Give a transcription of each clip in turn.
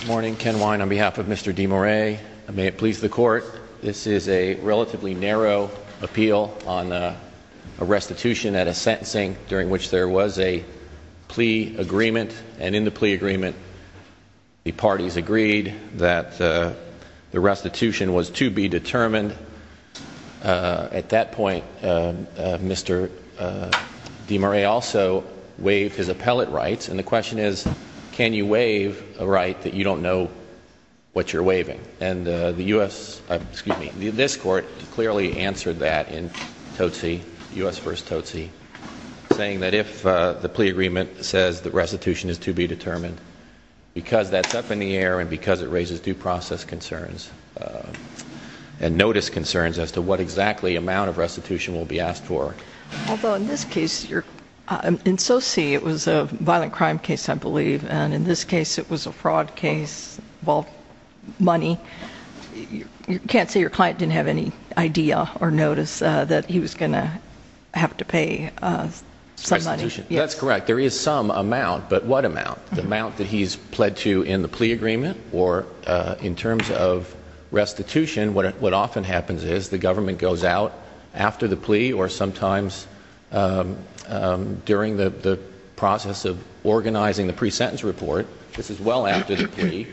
Good morning. Ken Wine on behalf of Mr. De Morais. May it please the court. This is a relatively narrow appeal on a restitution at a sentencing during which there was a plea agreement. And in the plea agreement, the parties agreed that the restitution was to be determined. At that point, Mr. De Morais also waived his appellate rights. And the question is, can you waive a right that you don't know what you're waiving? And the U.S., excuse me, this court clearly answered that in Totsi, U.S. v. Totsi, saying that if the plea agreement says that restitution is to be determined, because that's up in the air and because it raises due process concerns and notice concerns as to what exactly amount of restitution will be asked for. Although in this case, in Totsi it was a violent crime case, I believe, and in this case it was a fraud case involving money. You can't say your client didn't have any idea or notice that he was going to have to pay some money. Restitution. That's correct. There is some amount, but what amount? The amount that he's pled to in the plea agreement? Or in terms of restitution, what often happens is the government goes out after the plea or sometimes during the process of organizing the pre-sentence report, this is well after the plea,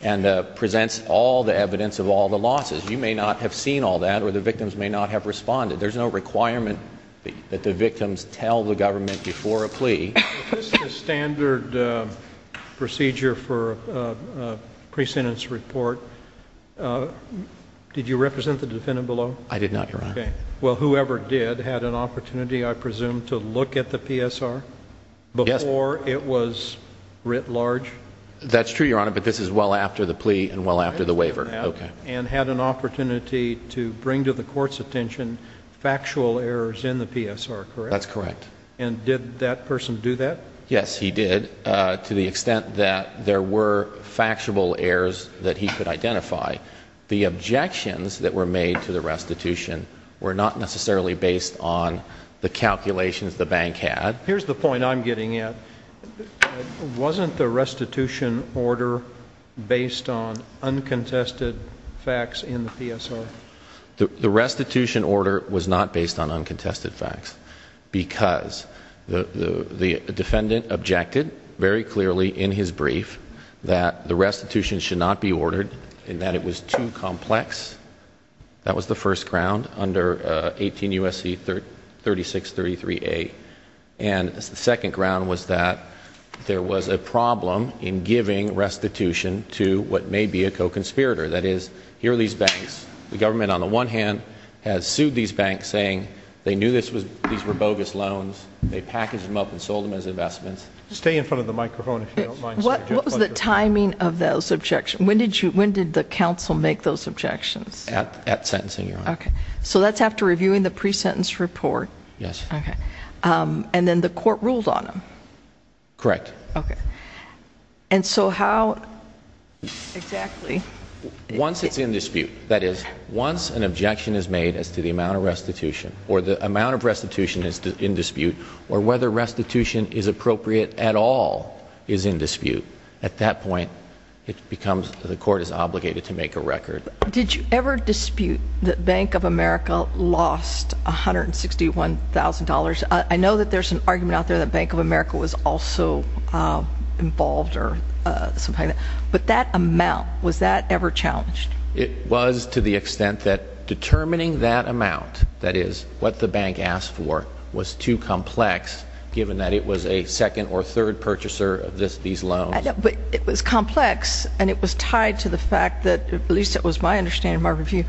and presents all the evidence of all the losses. You may not have seen all that or the victims may not have responded. There's no requirement that the victims tell the government before a plea. If this is the standard procedure for a pre-sentence report, did you represent the defendant below? I did not, Your Honor. Well, whoever did had an opportunity, I presume, to look at the PSR before it was writ large? That's true, Your Honor, but this is well after the plea and well after the waiver. And had an opportunity to bring to the court's attention factual errors in the PSR, correct? That's correct. And did that person do that? Yes, he did, to the extent that there were factual errors that he could identify. The objections that were made to the restitution were not necessarily based on the calculations the bank had. Here's the point I'm getting at. Wasn't the restitution order based on uncontested facts in the PSR? The restitution order was not based on uncontested facts because the defendant objected very clearly in his brief that the restitution should not be ordered and that it was too complex. That was the first ground under 18 U.S.C. 3633A. And the second ground was that there was a problem in giving restitution to what may be a co-conspirator. That is, here are these banks. The government, on the one hand, has sued these banks, saying they knew these were bogus loans. They packaged them up and sold them as investments. Stay in front of the microphone if you don't mind. What was the timing of those objections? When did the counsel make those objections? At sentencing, Your Honor. Okay. So that's after reviewing the pre-sentence report? Yes. Okay. And then the court ruled on them? Correct. Okay. And so how exactly? Once it's in dispute. That is, once an objection is made as to the amount of restitution or the amount of restitution is in dispute or whether restitution is appropriate at all is in dispute. At that point, the court is obligated to make a record. Did you ever dispute that Bank of America lost $161,000? I know that there's an argument out there that Bank of America was also involved or something like that. But that amount, was that ever challenged? It was to the extent that determining that amount, that is, what the bank asked for, was too complex given that it was a second or third purchaser of these loans. But it was complex, and it was tied to the fact that, at least it was my understanding in my review,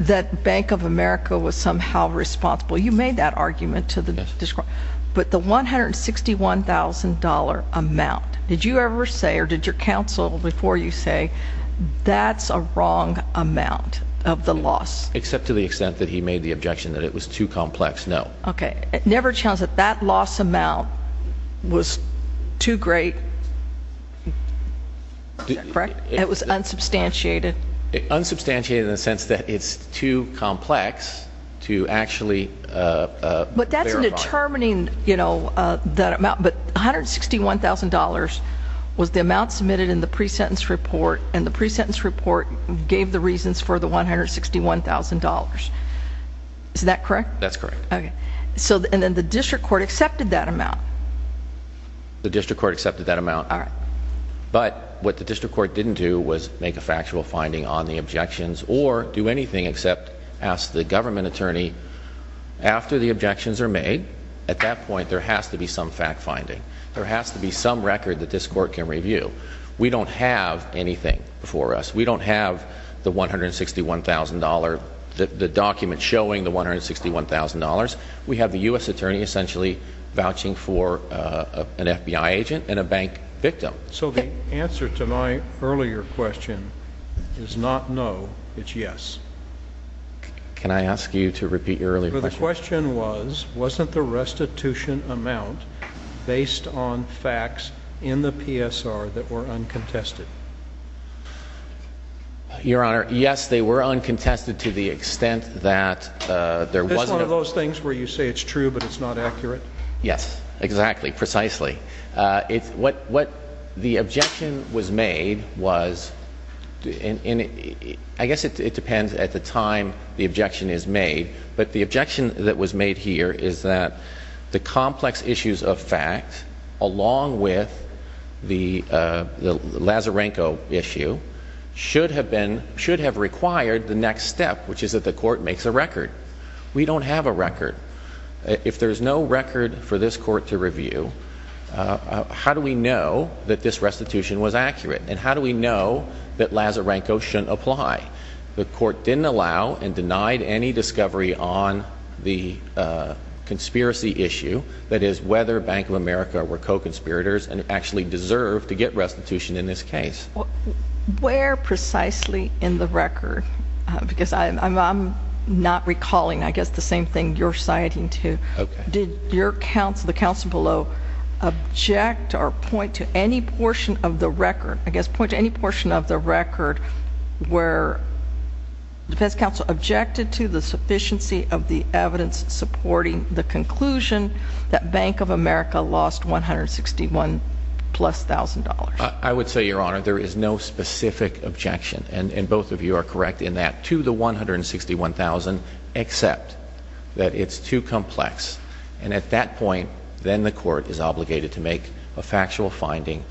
that Bank of America was somehow responsible. You made that argument. But the $161,000 amount, did you ever say or did your counsel before you say, that's a wrong amount of the loss? Except to the extent that he made the objection that it was too complex, no. Okay. It never challenged that that loss amount was too great, correct? It was unsubstantiated. Unsubstantiated in the sense that it's too complex to actually verify. But that's determining, you know, that amount. But $161,000 was the amount submitted in the pre-sentence report, and the pre-sentence report gave the reasons for the $161,000. Is that correct? That's correct. Okay. And then the district court accepted that amount? The district court accepted that amount. All right. But what the district court didn't do was make a factual finding on the objections or do anything except ask the government attorney, after the objections are made, at that point there has to be some fact finding. There has to be some record that this court can review. We don't have anything before us. We don't have the $161,000, the document showing the $161,000. We have the U.S. attorney essentially vouching for an FBI agent and a bank victim. So the answer to my earlier question is not no, it's yes. Can I ask you to repeat your earlier question? The question was, wasn't the restitution amount based on facts in the PSR that were uncontested? Your Honor, yes, they were uncontested to the extent that there was no. Is this one of those things where you say it's true but it's not accurate? Yes. Exactly. Precisely. What the objection was made was, I guess it depends at the time the objection is made, but the objection that was made here is that the complex issues of fact, along with the Lazarenko issue, should have required the next step, which is that the court makes a record. We don't have a record. If there's no record for this court to review, how do we know that this restitution was accurate? And how do we know that Lazarenko shouldn't apply? The court didn't allow and denied any discovery on the conspiracy issue, that is whether Bank of America were co-conspirators and actually deserved to get restitution in this case. Where precisely in the record, because I'm not recalling, I guess, the same thing you're citing to, did your counsel, the counsel below, object or point to any portion of the record, I guess, point to any portion of the record where the defense counsel objected to the sufficiency of the evidence supporting the conclusion that Bank of America lost $161,000 plus. I would say, Your Honor, there is no specific objection, and both of you are correct in that, to the $161,000, except that it's too complex. And at that point, then the court is obligated to make a factual finding,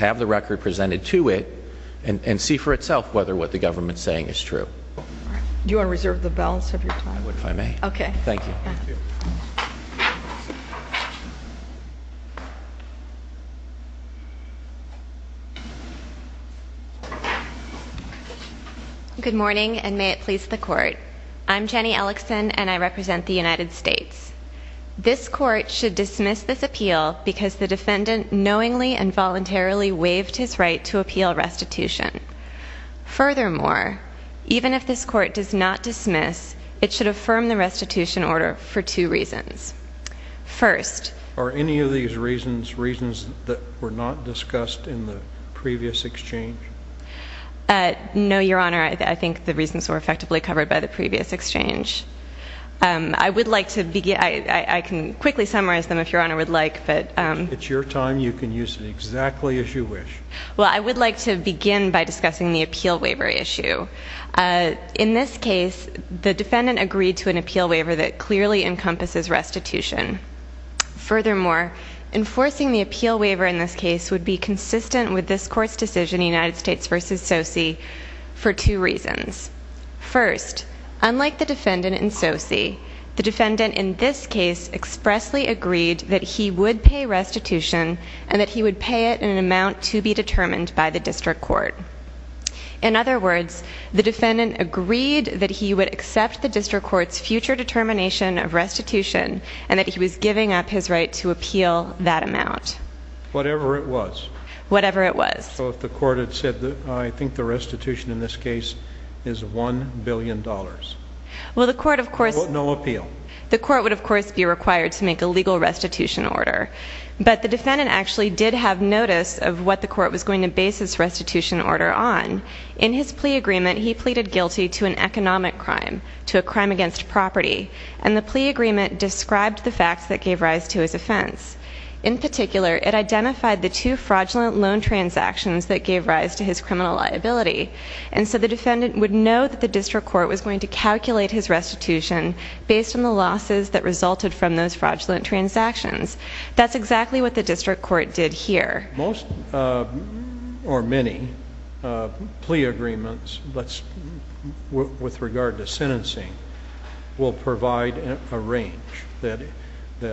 have the record presented to it, and see for itself whether what the government's saying is true. Do you want to reserve the balance of your time? I would, if I may. Okay. Thank you. Good morning, and may it please the court. I'm Jenny Ellickson, and I represent the United States. This court should dismiss this appeal because the defendant knowingly and voluntarily waived his right to appeal restitution. Furthermore, even if this court does not dismiss, it should affirm the restitution order for two reasons. First. Are any of these reasons reasons that were not discussed in the previous exchange? No, Your Honor. I think the reasons were effectively covered by the previous exchange. I would like to begin. I can quickly summarize them if Your Honor would like. It's your time. You can use it exactly as you wish. Well, I would like to begin by discussing the appeal waiver issue. In this case, the defendant agreed to an appeal waiver that clearly encompasses restitution. Furthermore, enforcing the appeal waiver in this case would be consistent with this court's decision, United States v. Sosi, for two reasons. First, unlike the defendant in Sosi, the defendant in this case expressly agreed that he would pay restitution and that he would pay it in an amount to be determined by the district court. In other words, the defendant agreed that he would accept the district court's future determination of restitution and that he was giving up his right to appeal that amount. Whatever it was. Whatever it was. So if the court had said, I think the restitution in this case is $1 billion. Well, the court, of course... No appeal. The court would, of course, be required to make a legal restitution order. But the defendant actually did have notice of what the court was going to base its restitution order on. In his plea agreement, he pleaded guilty to an economic crime. To a crime against property. And the plea agreement described the facts that gave rise to his offense. In particular, it identified the two fraudulent loan transactions that gave rise to his criminal liability. And so the defendant would know that the district court was going to calculate his restitution based on the losses that resulted from those fraudulent transactions. That's exactly what the district court did here. Most, or many, plea agreements with regard to sentencing will provide a range. That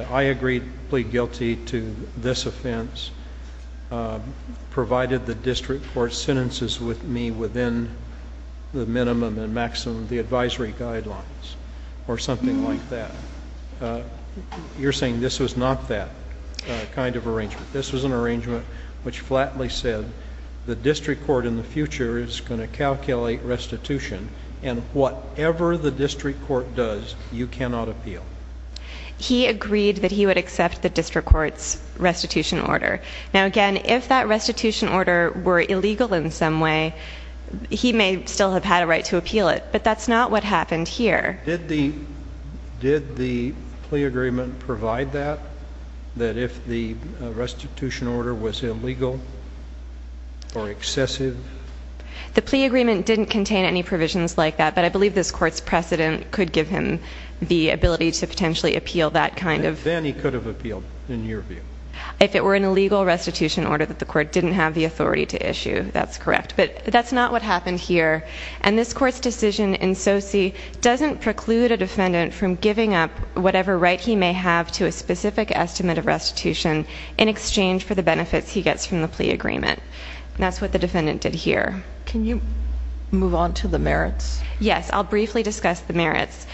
I agreed to plead guilty to this offense provided the district court sentences with me within the minimum and maximum of the advisory guidelines. Or something like that. You're saying this was not that kind of arrangement. This was an arrangement which flatly said the district court in the future is going to calculate restitution. And whatever the district court does, you cannot appeal. He agreed that he would accept the district court's restitution order. Now, again, if that restitution order were illegal in some way, he may still have had a right to appeal it. But that's not what happened here. Did the plea agreement provide that? That if the restitution order was illegal or excessive? The plea agreement didn't contain any provisions like that. But I believe this court's precedent could give him the ability to potentially appeal that kind of... Then he could have appealed, in your view. If it were an illegal restitution order that the court didn't have the authority to issue, that's correct. But that's not what happened here. And this court's decision in Sosi doesn't preclude a defendant from giving up whatever right he may have to a specific estimate of restitution in exchange for the benefits he gets from the plea agreement. That's what the defendant did here. Can you move on to the merits? Yes. I'll briefly discuss the merits.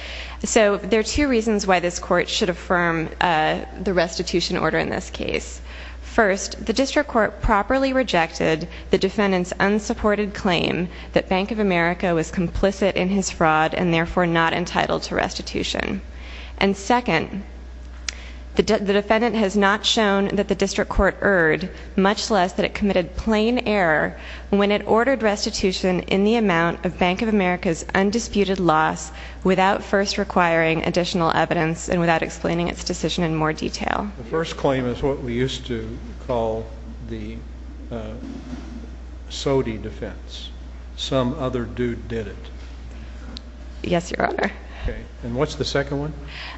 So there are two reasons why this court should affirm the restitution order in this case. First, the district court properly rejected the defendant's unsupported claim that Bank of America was complicit in his fraud and therefore not entitled to restitution. And second, the defendant has not shown that the district court erred, much less that it committed plain error when it ordered restitution in the amount of Bank of America's undisputed loss without first requiring additional evidence and without explaining its decision in more detail. The first claim is what we used to call the Sodi defense. Some other dude did it. Yes, Your Honor. And what's the second one?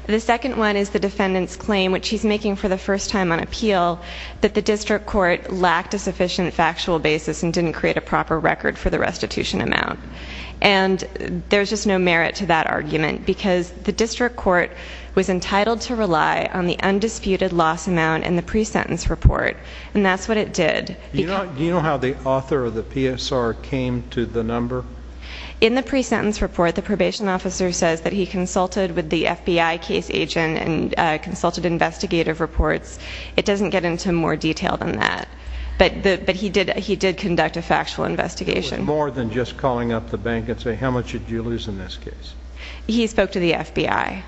The second one is the defendant's claim, which he's making for the first time on appeal, that the district court lacked a sufficient factual basis and didn't create a proper record for the restitution amount. And there's just no merit to that argument because the district court was entitled to rely on the undisputed loss amount in the pre-sentence report, and that's what it did. Do you know how the author of the PSR came to the number? In the pre-sentence report, the probation officer says that he consulted with the FBI case agent and consulted investigative reports. It doesn't get into more detail than that, but he did conduct a factual investigation. It was more than just calling up the bank and saying, how much did you lose in this case? He spoke to the FBI.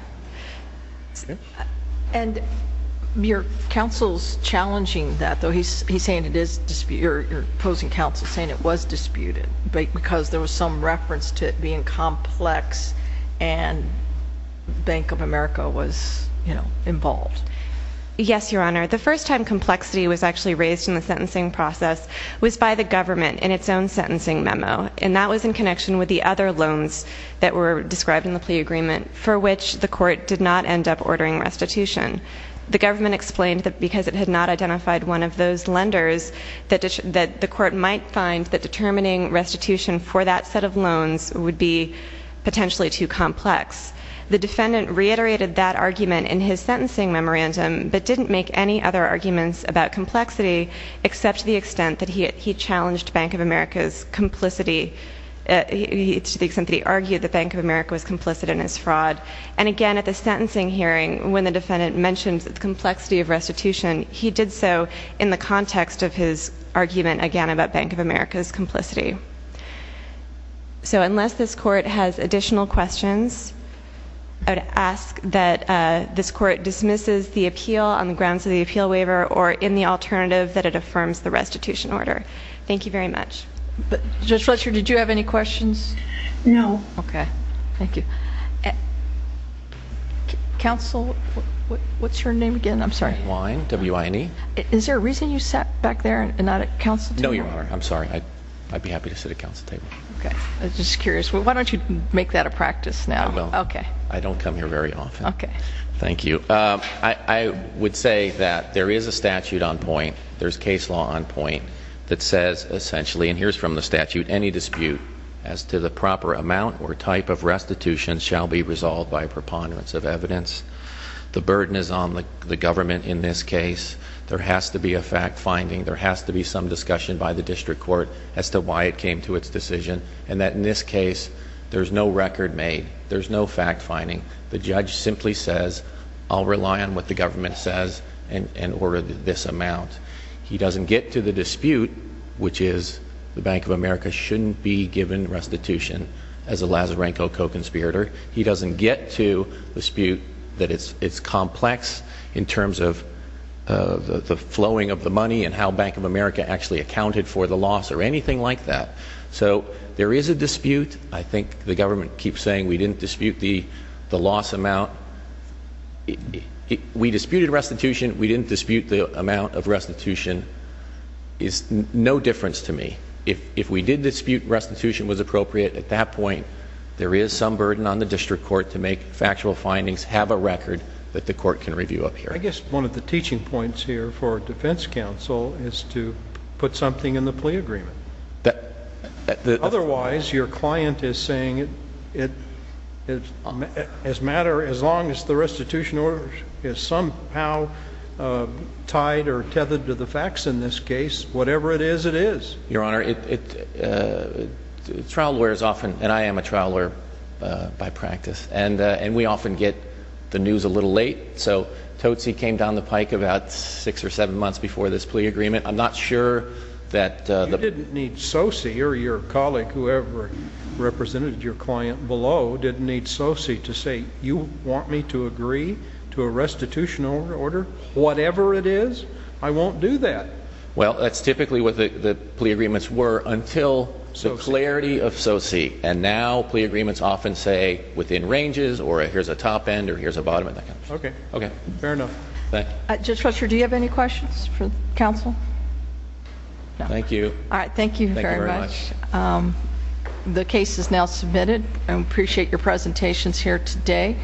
And your counsel's challenging that, though. He's saying it is disputed. Your opposing counsel is saying it was disputed because there was some reference to it being complex and Bank of America was involved. Yes, Your Honor. The first time complexity was actually raised in the sentencing process was by the government in its own sentencing memo, and that was in connection with the other loans that were described in the plea agreement for which the court did not end up ordering restitution. The government explained that because it had not identified one of those lenders, that the court might find that determining restitution for that set of loans would be potentially too complex. The defendant reiterated that argument in his sentencing memorandum but didn't make any other arguments about complexity except to the extent that he argued that Bank of America was complicit in his fraud. And again, at the sentencing hearing, when the defendant mentioned the complexity of restitution, he did so in the context of his argument, again, about Bank of America's complicity. So unless this court has additional questions, I would ask that this court dismisses the appeal on the grounds of the appeal waiver or in the alternative that it affirms the restitution order. Thank you very much. Judge Fletcher, did you have any questions? No. Okay. Thank you. Counsel, what's your name again? I'm sorry. Ryan, W-I-N-E. Is there a reason you sat back there and not at counsel table? No, Your Honor. I'm sorry. I'd be happy to sit at counsel table. Okay. I'm just curious. Why don't you make that a practice now? I will. Okay. I don't come here very often. Okay. Thank you. I would say that there is a statute on point. There's case law on point that says essentially, and here's from the statute, any dispute as to the proper amount or type of restitution shall be resolved by preponderance of evidence. The burden is on the government in this case. There has to be a fact finding. There has to be some discussion by the district court as to why it came to its decision and that in this case, there's no record made. There's no fact finding. The judge simply says, I'll rely on what the government says and order this amount. He doesn't get to the dispute, which is the Bank of America shouldn't be given restitution as a Lazarenko co-conspirator. He doesn't get to the dispute that it's complex in terms of the flowing of the money and how Bank of America actually accounted for the loss or anything like that. So there is a dispute. I think the government keeps saying we didn't dispute the loss amount. We disputed restitution. We didn't dispute the amount of restitution. It's no difference to me. If we did dispute restitution was appropriate, at that point, there is some burden on the district court to make factual findings, have a record that the court can review up here. I guess one of the teaching points here for defense counsel is to put something in the plea agreement. Otherwise, your client is saying as long as the restitution order is somehow tied or tethered to the facts in this case, whatever it is, it is. Your Honor, trial lawyers often, and I am a trial lawyer by practice, and we often get the news a little late. So Totsi came down the pike about six or seven months before this plea agreement. I'm not sure that the ---- You didn't need Totsi or your colleague, whoever represented your client below, didn't need Totsi to say you want me to agree to a restitution order, whatever it is, I won't do that. Well, that's typically what the plea agreements were until the clarity of Totsi. And now plea agreements often say within ranges or here's a top end or here's a bottom end. Okay. Fair enough. Judge Fletcher, do you have any questions for counsel? No. Thank you. All right. Thank you very much. Thank you very much. The case is now submitted. I appreciate your presentations here today.